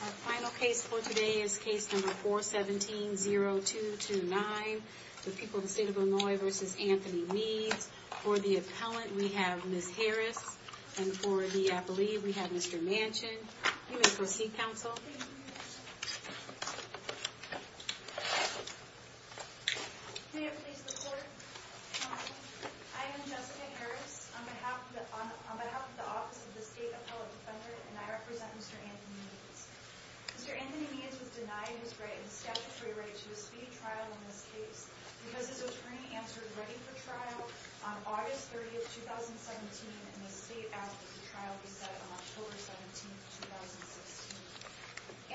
Our final case for today is case number 417-0229, the people of the state of Illinois versus Anthony Meads. For the appellant, we have Ms. Harris and for the appellee, we have Mr. Manchin. You may proceed, counsel. I am Jessica Harris. On behalf of the Office of the State Appellate Defender, and I represent Mr. Anthony Meads. Mr. Anthony Meads was denied his right, his statutory right, to a speedy trial in this case because his attorney answered ready for trial on August 30, 2017, and the state appellate's trial was set on October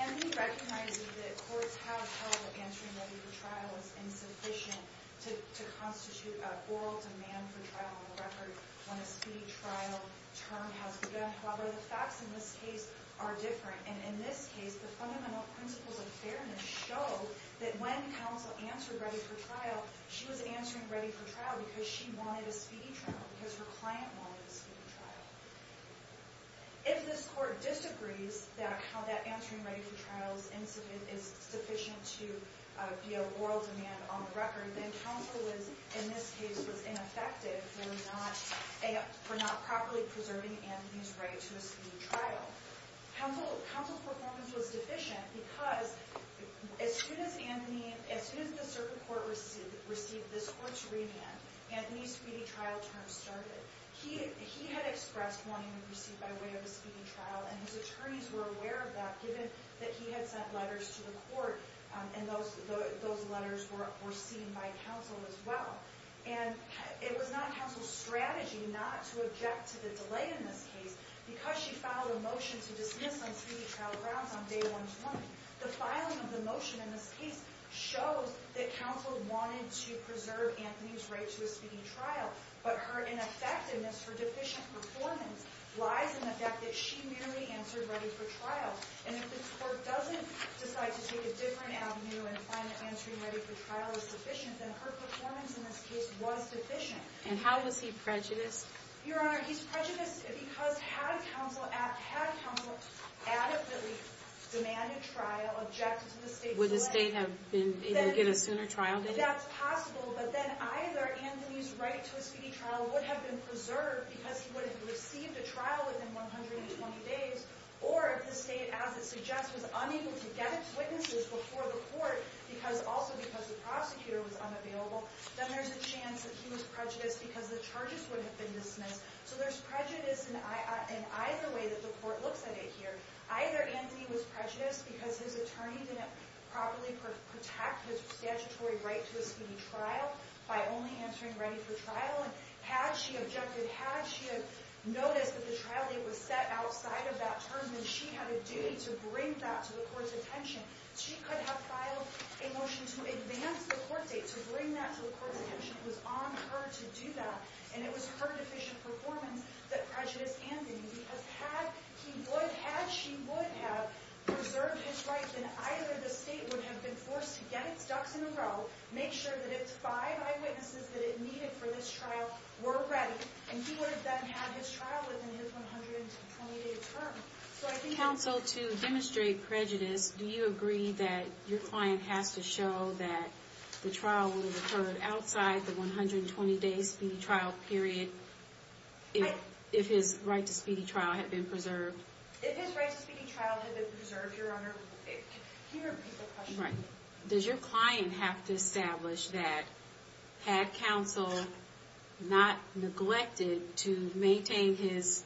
17, 2016. Anthony recognizes that courts have held that answering ready for trial is insufficient to constitute an oral demand for trial on the record when a speedy trial term has begun. However, the facts in this case are different, and in this case, the fundamental principles of fairness show that when counsel answered ready for trial, she was answering ready for trial because she wanted a speedy trial, because her client wanted a speedy trial. If this court disagrees that how that answering ready for trial incident is sufficient to be an oral demand on the record, then counsel, in this case, was ineffective for not properly preserving Anthony's right to a speedy trial. Counsel's performance was deficient because as soon as the circuit court received this court's remand, Anthony's speedy trial term started. He had expressed wanting to proceed by way of a speedy trial, and his attorneys were aware of that, given that he had sent letters to the court, and those letters were seen by counsel as well. And it was not counsel's strategy not to object to the delay in this case, because she filed a motion to dismiss on speedy trial grounds on day one's warning. The filing of the motion in this case shows that counsel wanted to preserve Anthony's right to a speedy trial, but her ineffectiveness for deficient performance lies in the fact that she merely answered ready for trial. And if this court doesn't decide to take a different avenue and find that answering ready for trial is sufficient, then her performance in this case was deficient. And how was he prejudiced? Your Honor, he's prejudiced because had counsel adequately demanded trial, objected to the state's delay... Would the state have been able to get a sooner trial date? That's possible, but then either Anthony's right to a speedy trial would have been preserved because he would have received a trial within 120 days, or if the state, as it suggests, was unable to get its witnesses before the court, also because the prosecutor was unavailable, then there's a chance that he was prejudiced because the charges would have been dismissed. So there's prejudice in either way that the court looks at it here. Either Anthony was prejudiced because his attorney didn't properly protect his statutory right to a speedy trial by only answering ready for trial. And had she objected, had she noticed that the trial date was set outside of that term, then she had a duty to bring that to the court's attention. She could have filed a motion to advance the court date, to bring that to the court's attention. It was on her to do that, and it was her deficient performance that prejudiced Anthony because had he would, had she would have preserved his right, then either the state would have been forced to get its ducks in a row, make sure that its five eyewitnesses that it needed for this trial were ready, and he would have then had his trial within his 120-day term. So I think... Counsel, to demonstrate prejudice, do you agree that your client has to show that the trial would have occurred outside the 120-day speedy trial period if his right to speedy trial had been preserved? If his right to speedy trial had been preserved, Your Honor, can you repeat the question? Does your client have to establish that, had counsel not neglected to maintain his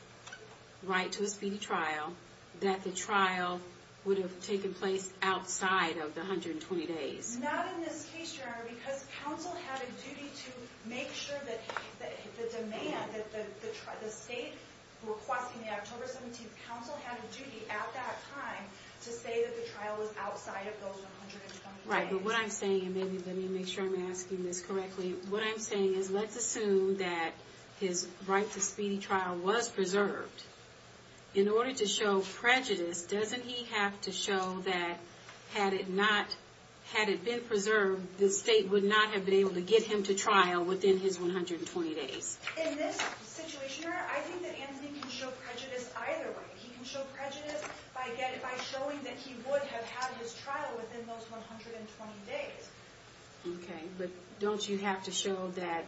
right to a speedy trial, that the trial would have taken place outside of the 120 days? Not in this case, Your Honor, because counsel had a duty to make sure that the demand, that the state requesting the October 17th counsel had a duty at that time to say that the trial was outside of those 120 days. Right, but what I'm saying, and maybe let me make sure I'm asking this correctly, what I'm saying is let's assume that his right to speedy trial was preserved. In order to show prejudice, doesn't he have to show that had it not, had it been preserved, the state would not have been able to get him to trial within his 120 days? In this situation, Your Honor, I think that Anthony can show prejudice either way. He can show prejudice by showing that he would have had his trial within those 120 days. Okay, but don't you have to show that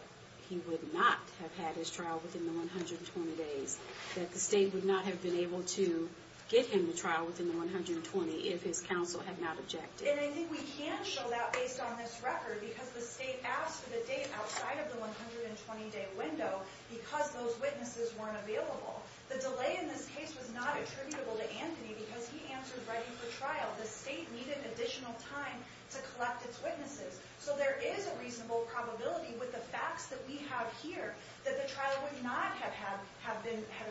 he would not have had his trial within the 120 days, that the state would not have been able to get him to trial within the 120 if his counsel had not objected? And I think we can show that based on this record because the state asked for the date outside of the 120 day window because those witnesses weren't available. The delay in this case was not attributable to Anthony because he answered ready for trial. The state needed additional time to collect its witnesses. So there is a reasonable probability with the facts that we have here that the trial would not have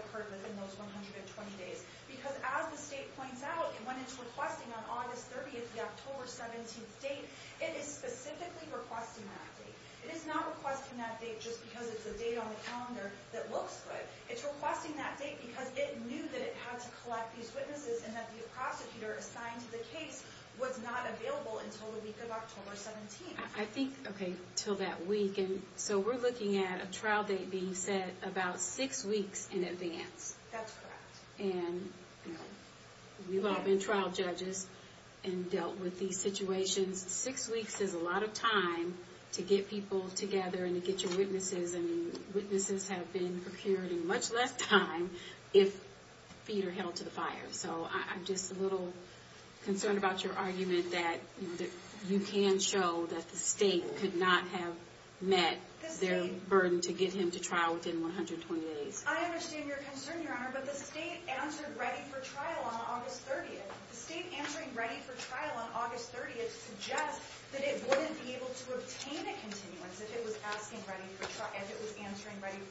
occurred within those 120 days. Because as the state points out, when it's requesting on August 30th, the October 17th date, it is specifically requesting that date. It is not requesting that date just because it's a date on the calendar that looks good. It's requesting that date because it knew that it had to collect these witnesses and that the prosecutor assigned to the case was not available until the week of October 17th. I think, okay, until that week. And so we're looking at a trial date being set about six weeks in advance. That's correct. And we've all been trial judges and dealt with these situations. Six weeks is a lot of time to get people together and to get your witnesses. Witnesses have been procured in much less time if feet are held to the fire. So I'm just a little concerned about your argument that you can show that the state could not have met their burden to get him to trial within 120 days. I understand your concern, Your Honor, but the state answered ready for trial on August 30th. The state answering ready for trial on August 30th suggests that it wouldn't be able to obtain a continuance if it was answering ready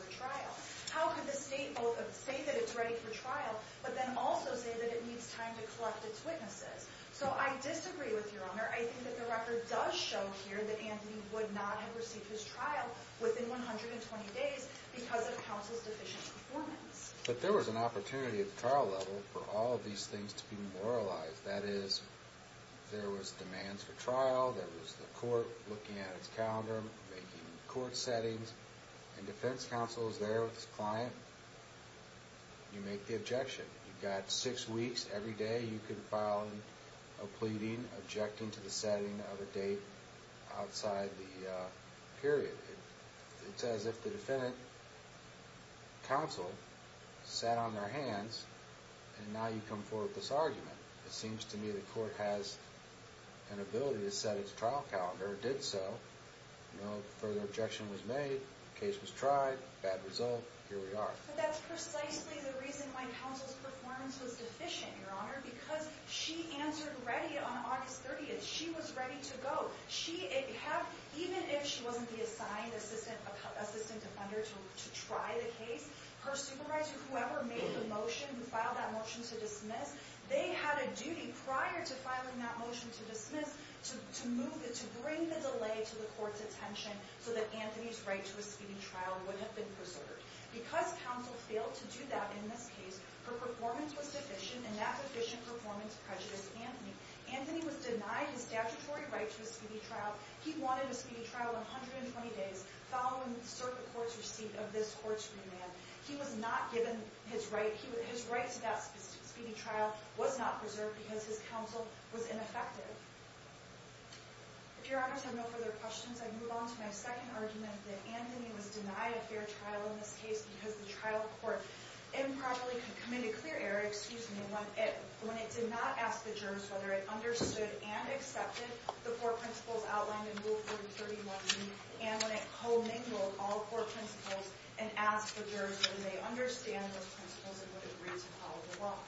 for trial. How could the state both say that it's ready for trial, but then also say that it needs time to collect its witnesses? So I disagree with Your Honor. I think that the record does show here that Anthony would not have received his trial within 120 days because of counsel's deficient performance. But there was an opportunity at the trial level for all of these things to be moralized. That is, there was demands for trial, there was the court looking at its calendar, making court settings, and defense counsel is there with his client. You make the objection. You've got six weeks. Every day you could file a pleading objecting to the setting of a date outside the period. It's as if the defendant, counsel, sat on their hands, and now you come forward with this argument. It seems to me the court has an ability to set its trial calendar. It did so. No further objection was made. Case was tried. Bad result. Here we are. But that's precisely the reason why counsel's performance was deficient, Your Honor, because she answered ready on August 30th. She was ready to go. Even if she wasn't assigned assistant defender to try the case, her supervisor, whoever made the motion, who filed that motion to dismiss, they had a duty prior to filing that motion to dismiss to bring the delay to the court's attention so that Anthony's right to a speeding trial would have been preserved. Because counsel failed to do that in this case, her performance was deficient, and that deficient performance prejudiced Anthony. Anthony was denied his statutory right to a speeding trial. He wanted a speeding trial 120 days following the circuit court's receipt of this court's remand. He was not given his right. His right to that speeding trial was not preserved because his counsel was ineffective. If Your Honors have no further questions, I move on to my second argument that Anthony was denied a fair trial in this case because the trial court improperly committed clear error when it did not ask the jurors whether it understood and accepted the four principles outlined in Rule 431B and when it commingled all four principles and asked the jurors whether they understand those principles and would agree to follow the law.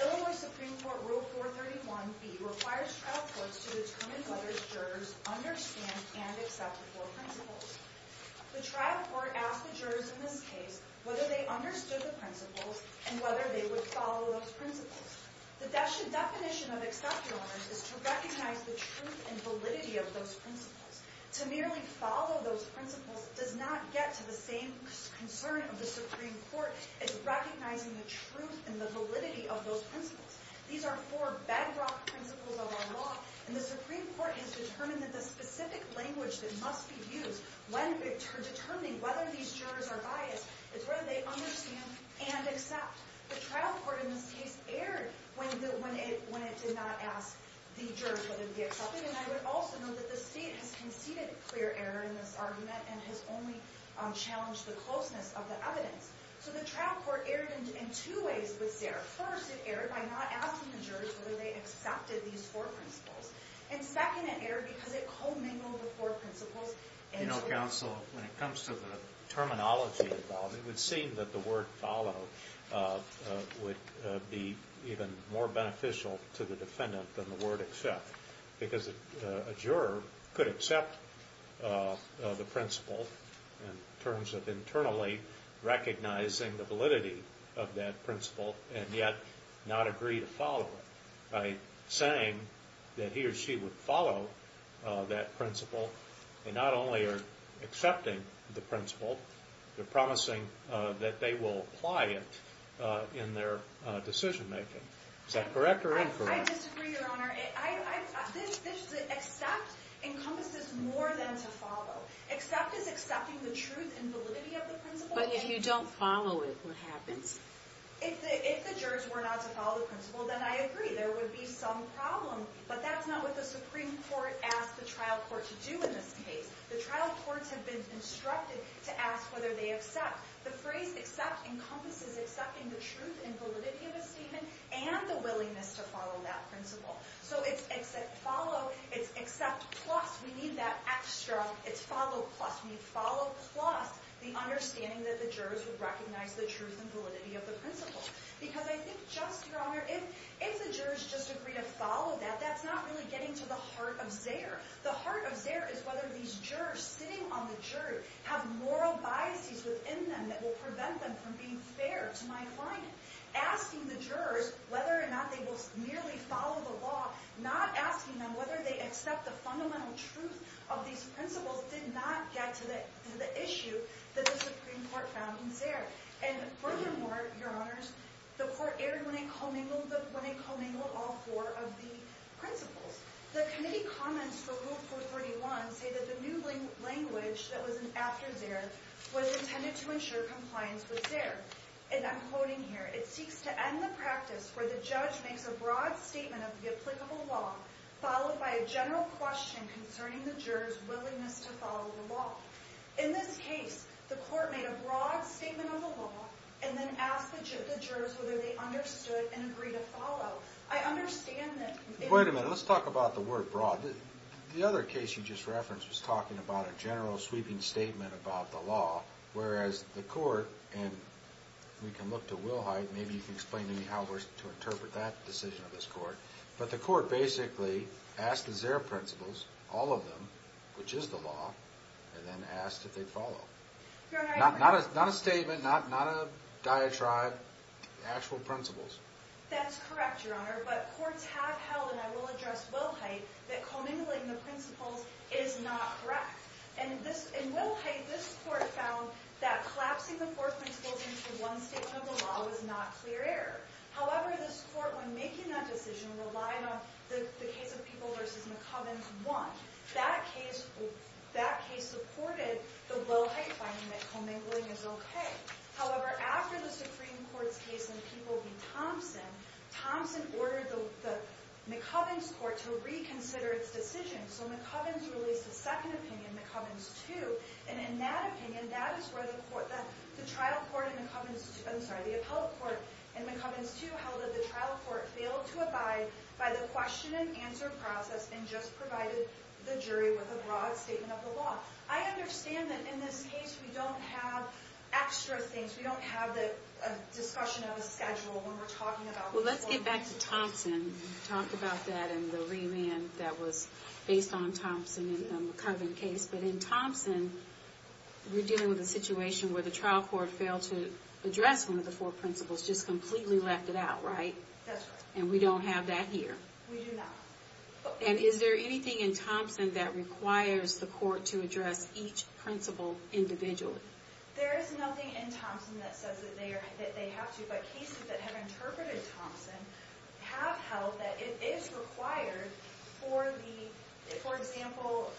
Illinois Supreme Court Rule 431B requires trial courts to determine whether jurors understand and accept the four principles. The trial court asked the jurors in this case whether they understood the principles and whether they would follow those principles. The definition of accept, Your Honors, is to recognize the truth and validity of those principles. To merely follow those principles does not get to the same concern of the Supreme Court as recognizing the truth and the validity of those principles. These are four bedrock principles of our law, and the Supreme Court has determined that the specific language that must be used when determining whether these jurors are biased is whether they understand and accept. The trial court in this case erred when it did not ask the jurors whether they would accept it, and I would also note that the State has conceded clear error in this argument and has only challenged the closeness of the evidence. First, it erred by not asking the jurors whether they accepted these four principles. And second, it erred because it co-mingled the four principles. You know, counsel, when it comes to the terminology involved, it would seem that the word follow would be even more beneficial to the defendant than the word accept because a juror could accept the principle in terms of internally recognizing the validity of that principle and yet not agree to follow it. By saying that he or she would follow that principle, they not only are accepting the principle, they're promising that they will apply it in their decision-making. Is that correct or incorrect? I disagree, Your Honor. Accept encompasses more than to follow. Accept is accepting the truth and validity of the principle. But if you don't follow it, what happens? If the jurors were not to follow the principle, then I agree, there would be some problem. But that's not what the Supreme Court asked the trial court to do in this case. The trial courts have been instructed to ask whether they accept. The phrase accept encompasses accepting the truth and validity of a statement and the willingness to follow that principle. So it's accept follow, it's accept plus. We need that extra, it's follow plus. We need follow plus the understanding that the jurors would recognize the truth and validity of the principle. Because I think just, Your Honor, if the jurors just agree to follow that, that's not really getting to the heart of Zayer. The heart of Zayer is whether these jurors sitting on the jury have moral biases within them that will prevent them from being fair to my client. Asking the jurors whether or not they will merely follow the law, not asking them whether they accept the fundamental truth of these principles did not get to the issue that the Supreme Court found in Zayer. And furthermore, Your Honors, the court erred when it commingled all four of the principles. The committee comments for Rule 431 say that the new language that was after Zayer was intended to ensure compliance with Zayer. And I'm quoting here, it seeks to end the practice where the judge makes a broad statement of the applicable law followed by a general question concerning the jurors' willingness to follow the law. In this case, the court made a broad statement of the law and then asked the jurors whether they understood and agreed to follow. I understand that... Wait a minute, let's talk about the word broad. The other case you just referenced was talking about a general sweeping statement about the law, whereas the court, and we can look to Wilhite, maybe you can explain to me how to interpret that decision of this court, but the court basically asked the Zayer principles, all of them, which is the law, and then asked if they'd follow. Your Honor... Not a statement, not a diatribe, actual principles. That's correct, Your Honor, but courts have held, and I will address Wilhite, that commingling the principles is not correct. In Wilhite, this court found that collapsing the four principles into one statement of the law was not clear error. However, this court, when making that decision, relied on the case of People v. McCovens I. That case supported the Wilhite finding that commingling is okay. However, after the Supreme Court's case in People v. Thompson, Thompson ordered the McCovens court to reconsider its decision, so McCovens released a second opinion, McCovens II, and in that opinion, that is where the trial court in McCovens II, I'm sorry, the appellate court in McCovens II, held that the trial court failed to abide by the question and answer process and just provided the jury with a broad statement of the law. I understand that in this case we don't have extra things, we don't have the discussion of a schedule when we're talking about... Well, let's get back to Thompson. We talked about that in the remand that was based on Thompson and the McCoven case, but in Thompson, we're dealing with a situation where the trial court failed to address one of the four principles, just completely left it out, right? That's right. And we don't have that here. We do not. And is there anything in Thompson that requires the court to address each principle individually? There is nothing in Thompson that says that they have to, but cases that have interpreted Thompson have held that it is required for the, for example,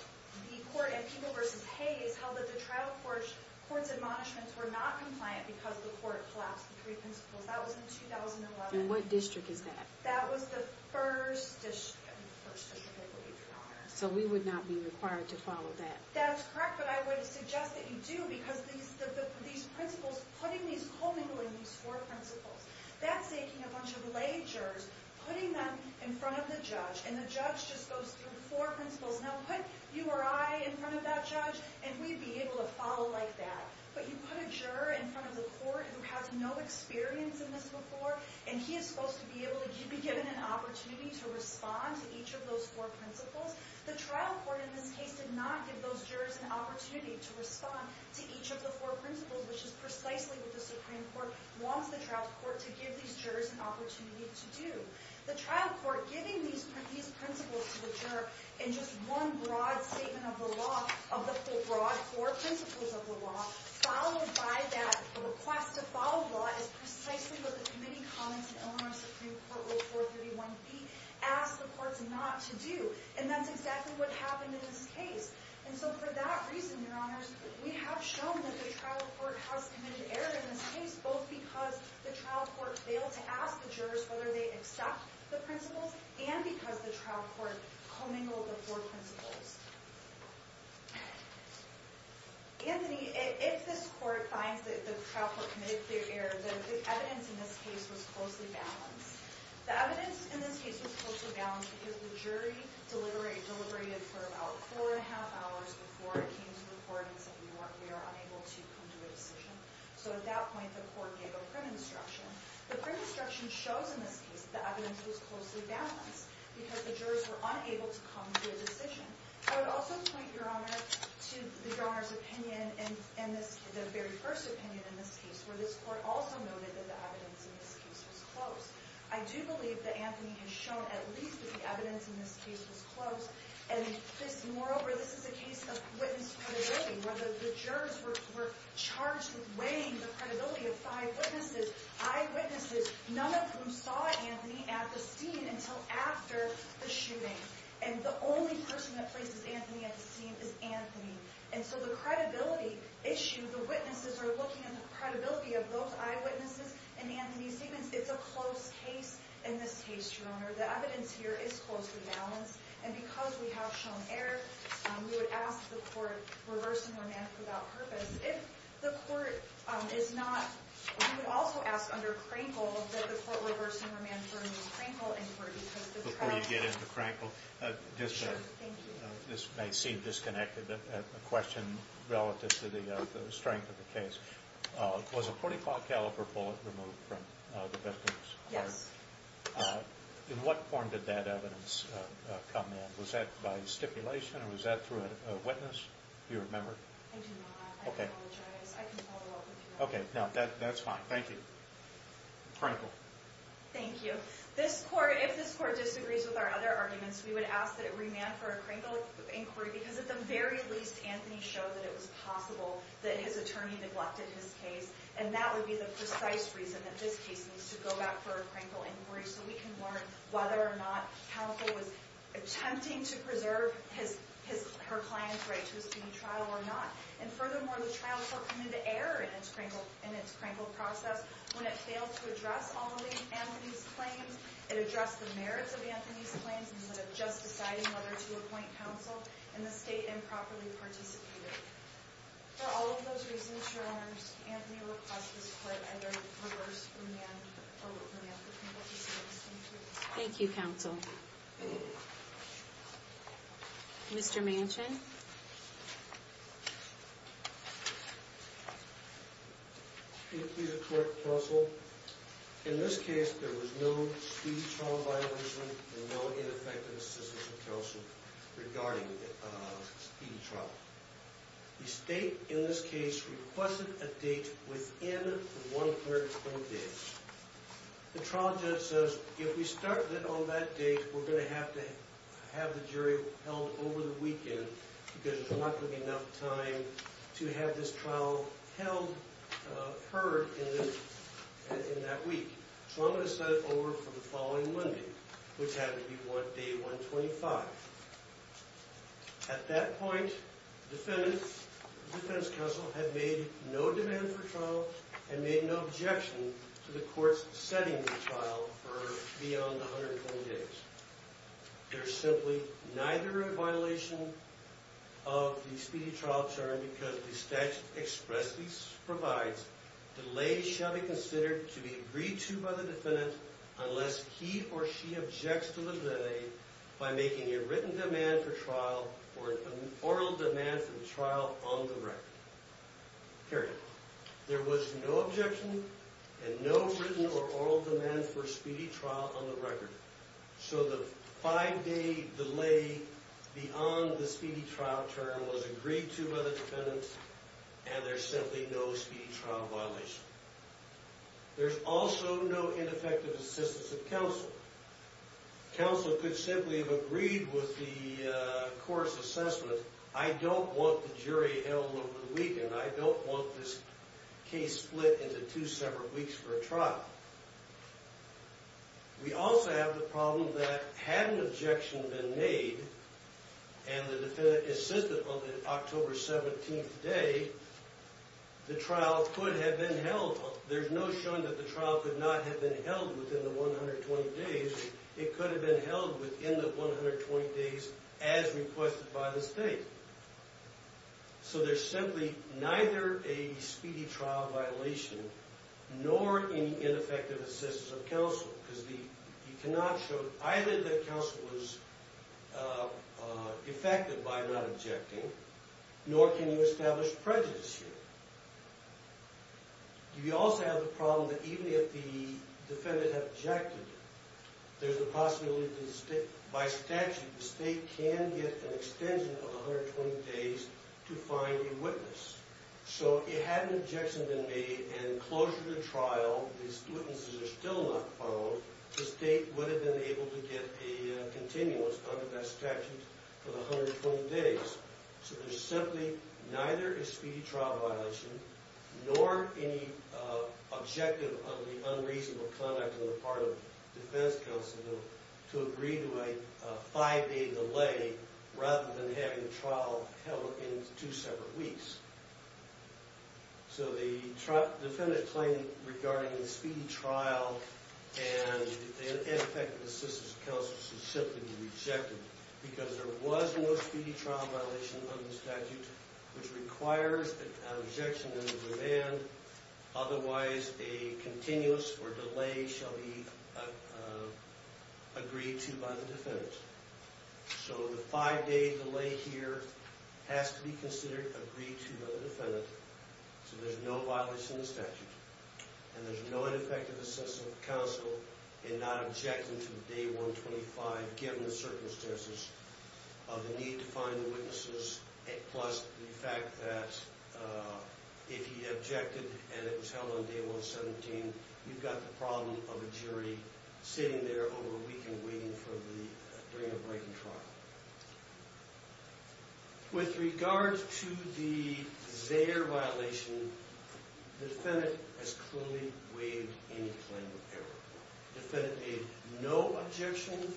the court in Peeble v. Hayes held that the trial court's admonishments were not compliant because the court collapsed the three principles. That was in 2011. And what district is that? That was the first district, I believe, in Congress. So we would not be required to follow that? That's correct, but I would suggest that you do, because these principles, putting these, commingling these four principles, that's taking a bunch of lay jurors, putting them in front of the judge, and the judge just goes through four principles. Now, put you or I in front of that judge, and we'd be able to follow like that. But you put a juror in front of the court who has no experience in this before, and he is supposed to be able to be given an opportunity to respond to each of those four principles. The trial court in this case did not give those jurors an opportunity to respond to each of the four principles, which is precisely what the Supreme Court wants the trial court to give these jurors an opportunity to do. The trial court giving these principles to the juror in just one broad statement of the law, of the broad four principles of the law, followed by that request to follow the law, is precisely what the committee comments in Illinois Supreme Court Rule 431b asked the courts not to do. And that's exactly what happened in this case. And so for that reason, Your Honors, we have shown that the trial court has committed error in this case, both because the trial court failed to ask the jurors whether they accept the principles, and because the trial court commingled the four principles. Anthony, if this court finds that the trial court committed clear error, the evidence in this case was closely balanced. The evidence in this case was closely balanced because the jury deliberated for about four and a half hours before it came to the court and said we are unable to come to a decision. So at that point, the court gave a print instruction. The print instruction shows in this case that the evidence was closely balanced because the jurors were unable to come to a decision. I would also point, Your Honor, to the very first opinion in this case, where this court also noted that the evidence in this case was close. I do believe that Anthony has shown at least that the evidence in this case was close. Moreover, this is a case of witness credibility, where the jurors were charged with weighing the credibility of five eyewitnesses, none of whom saw Anthony at the scene until after the shooting. And the only person that places Anthony at the scene is Anthony. And so the credibility issue, the witnesses are looking at the credibility of both eyewitnesses and Anthony Stevens. It's a close case in this case, Your Honor. The evidence here is closely balanced. And because we have shown error, we would ask the court reverse and remand for that purpose. If the court is not, we would also ask under Krankel that the court reverse and remand for a new Krankel inquiry. Before you get into Krankel, this may seem disconnected, a question relative to the strength of the case. Was a .45 caliber bullet removed from the victim's heart? Yes. In what form did that evidence come in? Was that by stipulation or was that through a witness? Do you remember? I do not. I apologize. I can follow up with you on that. Okay. That's fine. Thank you. Krankel. Thank you. This court, if this court disagrees with our other arguments, we would ask that it remand for a Krankel inquiry because at the very least, Anthony showed that it was possible that his attorney neglected his case. And that would be the precise reason that this case needs to go back for a Krankel inquiry so we can learn whether or not counsel was attempting to preserve her client's right to a student trial or not. And furthermore, the trial shall come into error in its Krankel process when it fails to address all of Anthony's claims, and address the merits of Anthony's claims, instead of just deciding whether to appoint counsel in the state and properly participate in it. For all of those reasons, Your Honors, Anthony requests this court either reverse remand or remand for Krankel case. Thank you. Thank you, counsel. Mr. Manchin. Can you please report, counsel? In this case, there was no speedy trial violation, and no ineffective assistance of counsel regarding the speedy trial. The state, in this case, requested a date within 120 days. The trial judge says, if we start on that date, we're going to have to have the jury held over the weekend because there's not going to be enough time to have this trial held, heard in that week. So I'm going to set it over for the following Monday, which happens to be day 125. At that point, the defense counsel had made no demand for trial and made no objection to the court's setting the trial for beyond 120 days. There's simply neither a violation of the speedy trial term because the statute expressly provides delays shall be considered to be agreed to by the defendant unless he or she objects to the delay by making a written demand for trial or an oral demand for trial on the record. Period. There was no objection and no written or oral demand for speedy trial on the record. So the five-day delay beyond the speedy trial term was agreed to by the defendant and there's simply no speedy trial violation. There's also no ineffective assistance of counsel. Counsel could simply have agreed with the court's assessment, I don't want the jury held over the weekend, I don't want this case split into two separate weeks for a trial. We also have the problem that had an objection been made and the defendant assisted on the October 17th day, the trial could have been held. There's no showing that the trial could not have been held within the 120 days. It could have been held within the 120 days as requested by the state. So there's simply neither a speedy trial violation nor any ineffective assistance of counsel because you cannot show either that counsel was effective by not objecting nor can you establish prejudice here. You also have the problem that even if the defendant had objected, there's a possibility that by statute the state can get an extension of 120 days to find a witness. So it had an objection been made and closure of the trial, these witnesses are still not found, the state would have been able to get a continuous under that statute for the 120 days. So there's simply neither a speedy trial violation nor any objective of the unreasonable conduct on the part of defense counsel to agree to a five-day delay rather than having the trial held in two separate weeks. So the defendant's claim regarding the speedy trial and ineffective assistance of counsel should simply be rejected because there was no speedy trial violation under the statute which requires an objection and a demand. Otherwise, a continuous or delay shall be agreed to by the defendant. So the five-day delay here has to be considered, agreed to by the defendant so there's no violence in the statute and there's no ineffective assistance of counsel in not objecting to Day 125 given the circumstances of the need to find the witnesses plus the fact that if he objected and it was held on Day 117, you've got the problem of a jury sitting there over a weekend waiting for the, during a breaking trial. With regards to the Zayder violation, the defendant has clearly waived any claim of error. The defendant made no objection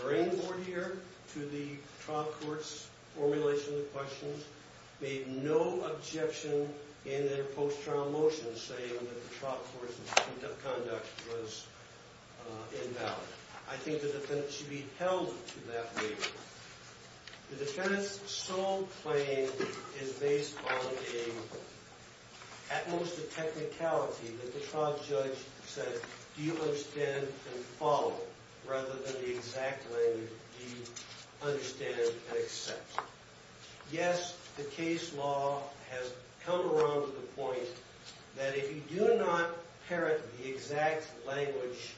during the court year to the trial court's formulation of the questions, made no objection in their post-trial motion saying that the trial court's conduct was invalid. I think the defendant should be held to that waiver. The defendant's sole claim is based on a, at most a technicality that the trial judge said, do you understand and follow rather than the exact language, do you understand and accept. I think that if you do not parrot the exact language,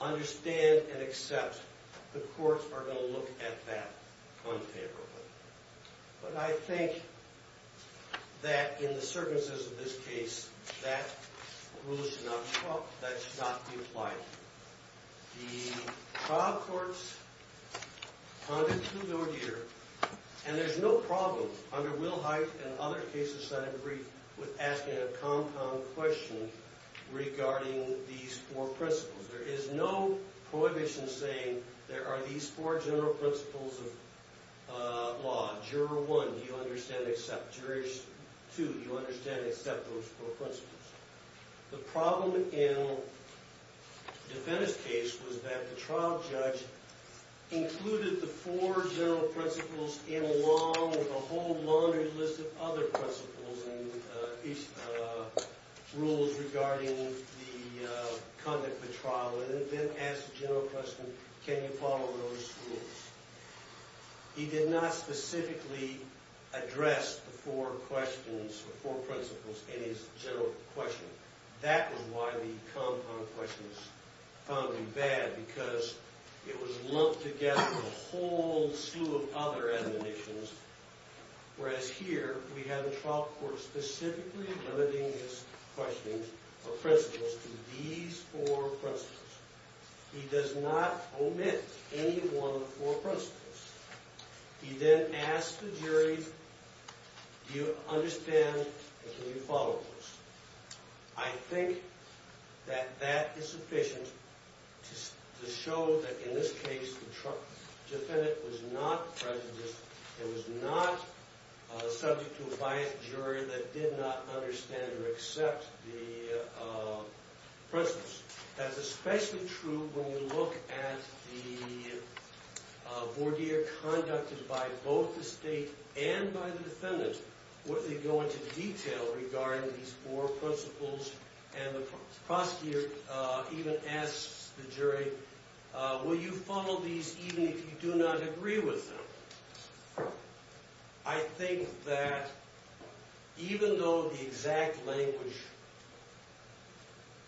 understand and accept, the courts are going to look at that unfavorably. But I think that in the circumstances of this case, that rule should not, well, that should not be applied. The trial court's conduct through the ordeal, and there's no problem under Wilhite and other cases that I've briefed with asking a compound question regarding these four principles. There is no prohibition saying there are these four general principles of law. Juror one, do you understand and accept. Jurors two, do you understand and accept those four principles. The problem in the defendant's case was that the trial judge included the four general principles in law with a whole laundry list of other principles and rules regarding the conduct of the trial and then asked the general question, can you follow those rules. He did not specifically address the four questions, the four principles in his general question. That was why the compound question was found to be bad because it was lumped together with a whole slew of other admonitions. Whereas here, we have the trial court specifically limiting his questioning of principles to these four principles. He does not omit any one of the four principles. He then asks the jury, do you understand and can you follow those. I think that that is sufficient to show that in this case, the defendant was not prejudiced. It was not subject to a violent jury that did not understand or accept the principles. That's especially true when you look at the voir dire conducted by both the state and by the defendant, where they go into detail regarding these four principles. And the prosecutor even asks the jury, will you follow these even if you do not agree with them? I think that even though the exact language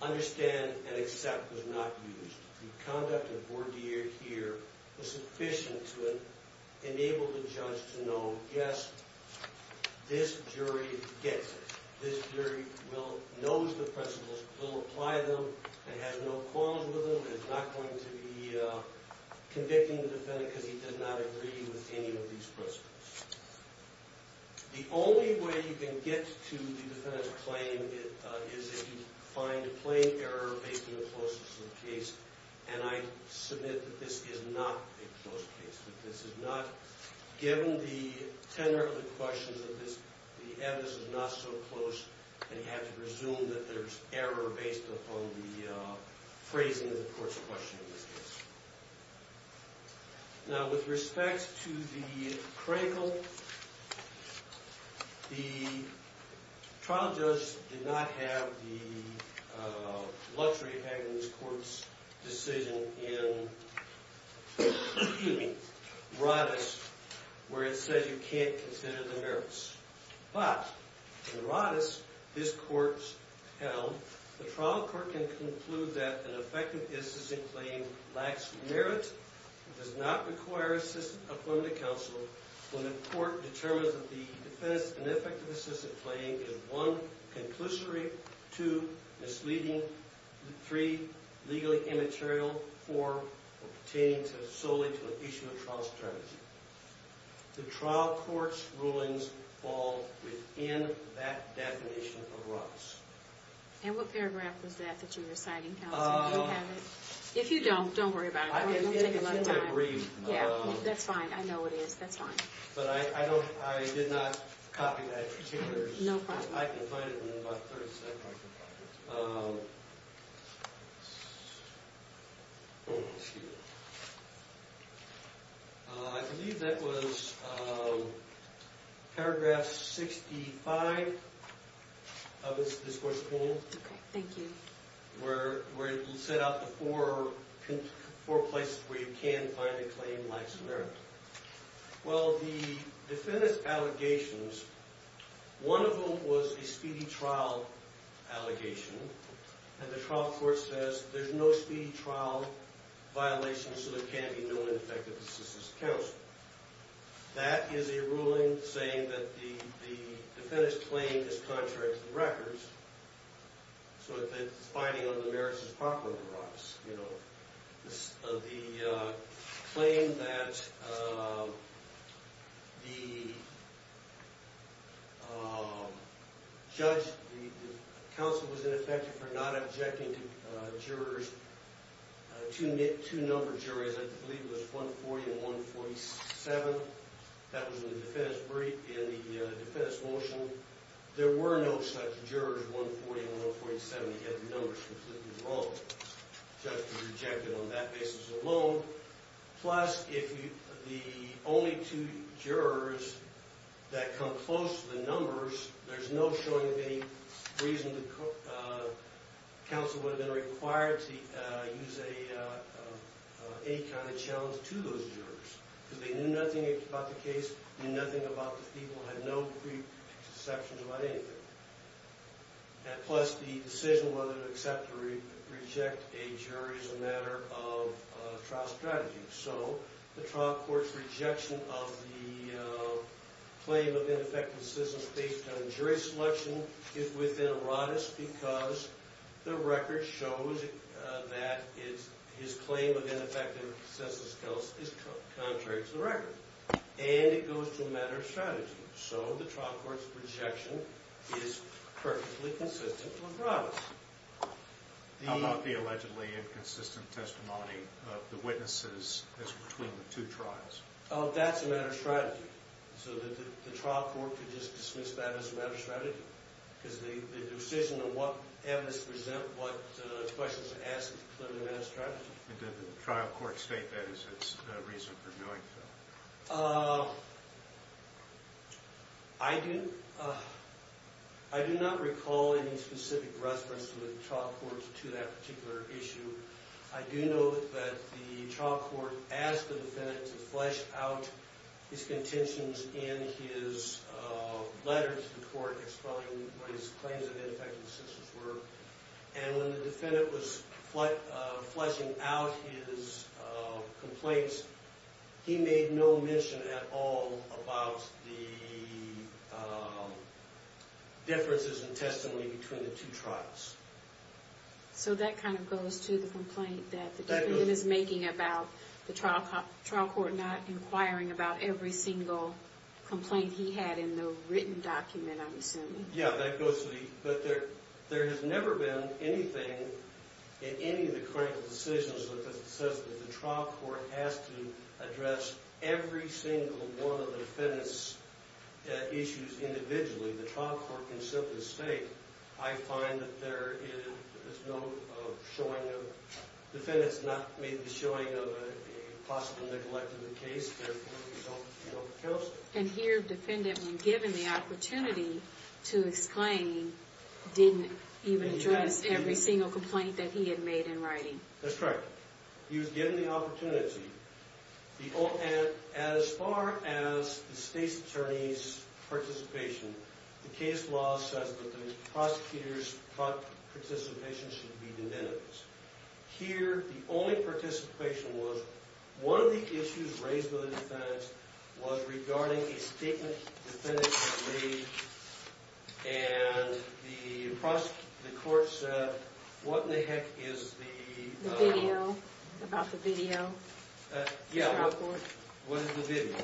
understand here was sufficient to enable the judge to know, yes, this jury gets it. This jury knows the principles, will apply them, and has no qualms with them. It's not going to be convicting the defendant because he does not agree with any of these principles. The only way you can get to the defendant's claim is if you find a plain error based on the closeness of the case. And I submit that this is not a close case. Given the tenor of the questions of this, the evidence is not so close. And you have to presume that there's error based upon the phrasing of the court's question in this case. Now, with respect to the cradle, the trial judge did not have the luxury of having this court's decision in Roddice, where it says you can't consider the merits. But in Roddice, this court's held, the trial court can conclude that an effective assistant claim lacks merit. It does not require assistant appointment of counsel. When the court determines that the defense has an effective assistant claim, it is one, conclusory. Two, misleading. Three, legally immaterial. Four, pertaining solely to an issue of trial's term. The trial court's rulings fall within that definition of Roddice. And what paragraph was that that you were citing, Counselor? Do you have it? If you don't, don't worry about it. It won't take a lot of time. I think it's in the agreement. Yeah, that's fine. I know it is. That's fine. But I did not copy that particular. No problem. I can find it in about 30 seconds. I believe that was paragraph 65 of this court's rule. OK, thank you. Where it set out the four places where you can find a claim lacks merit. Well, the defendant's allegations, one of them was a speedy trial allegation. And the trial court says, there's no speedy trial violation, so there can't be no ineffective assistant counsel. That is a ruling saying that the defendant's claim is contrary to the records. So it's binding on the merits as proper of Roddice. The claim that the counsel was ineffective for not objecting to jurors, two numbered jurors, I believe it was 140 and 147. That was in the defendant's brief in the defendant's motion. There were no such jurors, 140 and 147. He had the numbers completely wrong. The judge could reject it on that basis alone. Plus, if the only two jurors that come close to the numbers, there's no showing of any reason the counsel would have been required to use any kind of challenge to those jurors. Because they knew nothing about the case, knew nothing about the people, had no preconceptions about anything. And plus, the decision whether to accept or reject a jury is a matter of trial strategy. So the trial court's rejection of the claim of ineffective assistance based on jury selection is within Roddice because the record shows that his claim of ineffective assistance is contrary to the record. And it goes to a matter of strategy. So the trial court's rejection is perfectly consistent with Roddice. How about the allegedly inconsistent testimony of the witnesses as between the two trials? That's a matter of strategy. So the trial court could just dismiss that as a matter of strategy. Because the decision of what evidence present what questions are asked is clearly a matter of strategy. And did the trial court state that as its reason for doing so? I do not recall any specific reference to the trial court to that particular issue. I do know that the trial court asked the defendant to flesh out his contentions in his letter to the court explaining what his claims of ineffective assistance were. And when the defendant was fleshing out his complaints, he made no mention at all about the differences in testimony between the two trials. So that kind of goes to the complaint that the defendant is making about the trial court not inquiring about every single complaint he had in the written document, I'm assuming. Yeah, that goes to the complaint. But there has never been anything in any of the critical decisions that says that the trial court has to address every single one of the defendant's issues individually. The trial court can simply state, I find that there is no showing of, the defendant's not made the showing of a possible neglect of the case. Therefore, we don't account for it. And here, the defendant, when given the opportunity to explain, didn't even address every single complaint that he had made in writing. That's correct. He was given the opportunity. And as far as the state's attorney's participation, the case law says that the prosecutor's participation should be the defendant's. Here, the only participation was one of the issues raised by the defendant was regarding a statement the defendant had made. And the court said, what in the heck is the? The video. About the video. Yeah. What is the video?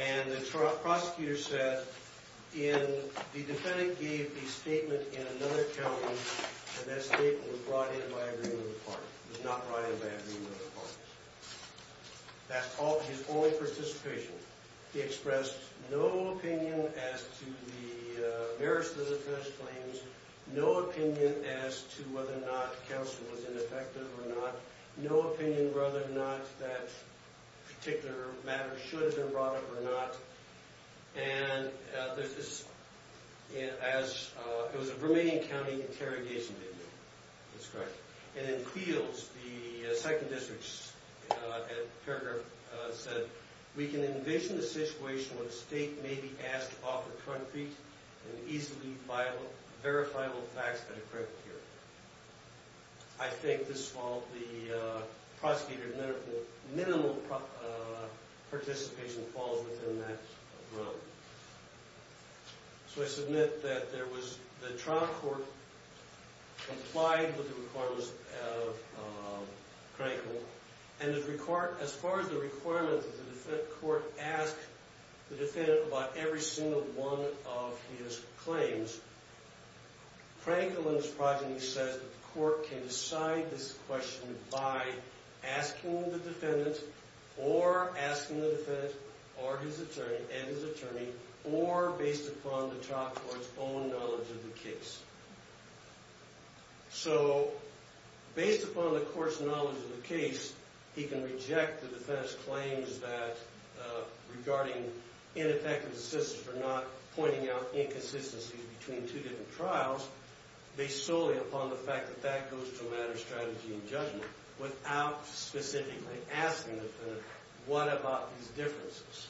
And the prosecutor said, the defendant gave a statement in another county, and that statement was brought in by agreement of the parties. It was not brought in by agreement of the parties. That's his only participation. He expressed no opinion as to the merits of the defendant's claims, no opinion as to whether or not counsel was ineffective or not, no opinion whether or not that particular matter should have been brought up or not. And it was a Romanian county interrogation video. That's correct. And in Cleels, the second district paragraph said, we can envision a situation where the state may be asked to offer concrete and easily verifiable facts that are critical here. I think this followed the prosecutor's minimal participation falls within that realm. So I submit that the trial court complied with the requirements of Crankle. And as far as the requirement that the court ask the defendant about every single one of his claims, Crankle and his progeny says that the court can decide this question by asking the defendant or asking the defendant and his attorney or based upon the trial court's own knowledge of the case. So based upon the court's knowledge of the case, he can reject the defendant's claims that regarding ineffective assistance or not pointing out inconsistencies between two different trials based solely upon the fact that that goes to a matter of strategy and judgment without specifically asking the defendant, what about these differences?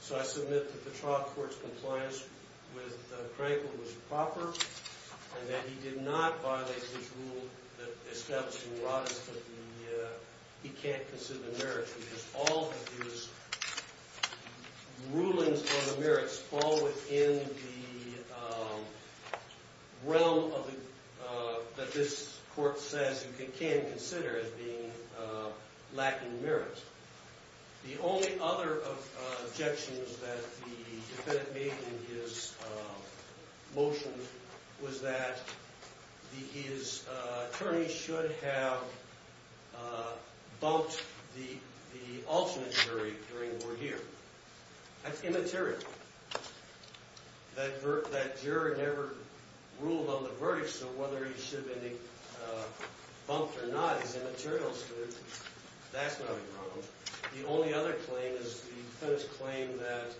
So I submit that the trial court's compliance with Crankle was proper and that he did not violate his rule that established he can't consider merits because all of his rulings on the merits fall within the realm that this court says you can consider as being lacking merits. The only other objections that the defendant made in his motion was that his attorney should have bumped the alternate jury during the word here. That's immaterial. That juror never ruled on the verdict, so whether he should have been bumped or not is immaterial to the jury. That's not a problem. The only other claim is the defendant's claim that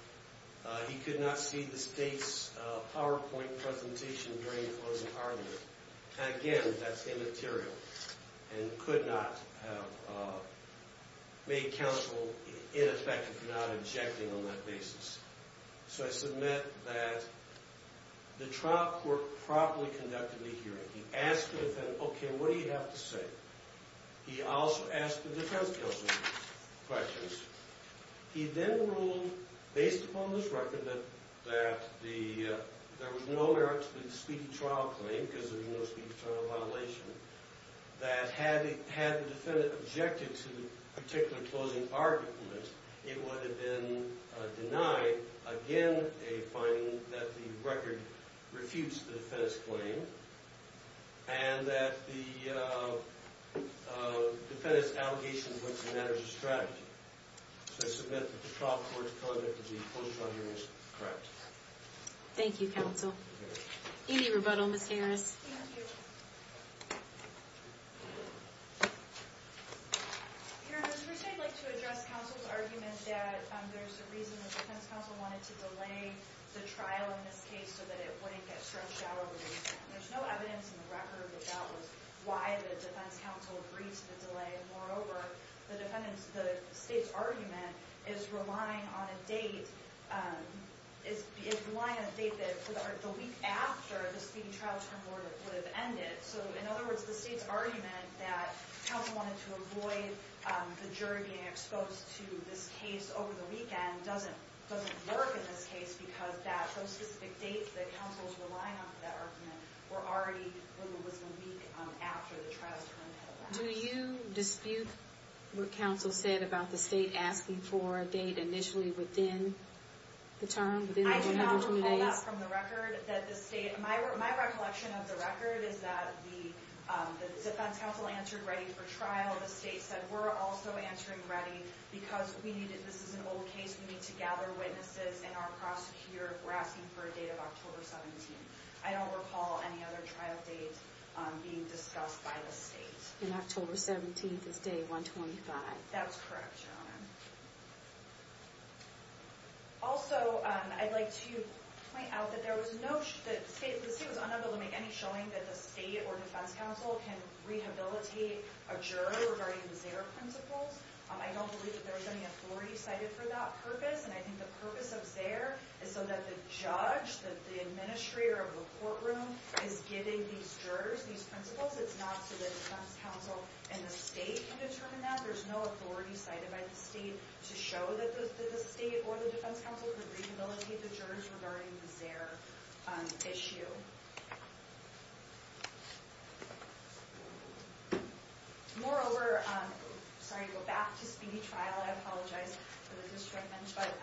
he could not see the state's PowerPoint presentation during the closing argument. Again, that's immaterial and could not have made counsel ineffective for not objecting on that basis. So I submit that the trial court properly conducted the hearing. He asked the defendant, OK, what do you have to say? He also asked the defense counsel questions. He then ruled, based upon this record, that there was no merit to the speedy trial claim because there was no speedy trial violation, that had the defendant objected to the particular closing argument, it would have been denied. Again, a finding that the record refutes the defendant's claim and that the defendant's allegations So I submit that the trial court's closing argument is correct. Thank you, counsel. Any rebuttal, Ms. Harris? Thank you. Your Honor, first I'd like to address counsel's argument that there's a reason the defense counsel wanted to delay the trial in this case so that it wouldn't get stretched out over time. There's no evidence in the record that that was why the defense counsel agreed to the delay. And moreover, the state's argument is relying on a date that the week after the speedy trial term would have ended. So in other words, the state's argument that counsel wanted to avoid the jury being exposed to this case over the weekend doesn't work in this case because those specific dates that counsel was relying on for that argument were already when it was a week after the trial's term had ended. Do you dispute what counsel said about the state asking for a date initially within the term, within the 120 days? I do not recall that from the record. My recollection of the record is that the defense counsel answered ready for trial. The state said, we're also answering ready because this is an old case. We need to gather witnesses and our prosecutor. We're asking for a date of October 17. I don't recall any other trial date being discussed by the state. And October 17 is day 125. That's correct, Your Honor. Also, I'd like to point out that the state was unable to make any showing that the state or defense counsel can rehabilitate a juror regarding the Zare principles. I don't believe that there was any authority cited for that purpose. And I think the purpose of Zare is so that the judge, that the administrator of the courtroom is giving these jurors these principles. It's not so the defense counsel and the state can determine that. There's no authority cited by the state to show that the state or the defense counsel could rehabilitate the jurors regarding the Zare issue. Moreover, sorry to go back to speedy trial. I apologize for the distractment. But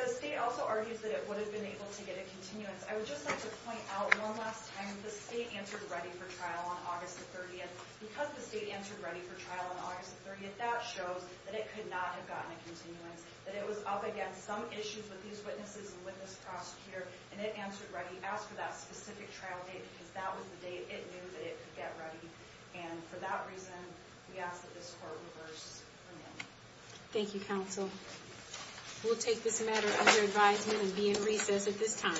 the state also argues that it would have been able to get a continuance. I would just like to point out one last time that the state answered ready for trial on August the 30th. Because the state answered ready for trial on August the 30th, that shows that it could not have gotten a continuance, that it was up against some issues with these witnesses and with this prosecutor. And it answered ready. Asked for that specific trial date, because that was the date it knew that it could get ready. And for that reason, we ask that this court reverse the name. Thank you, counsel. We'll take this matter under advisement and be in recess at this time.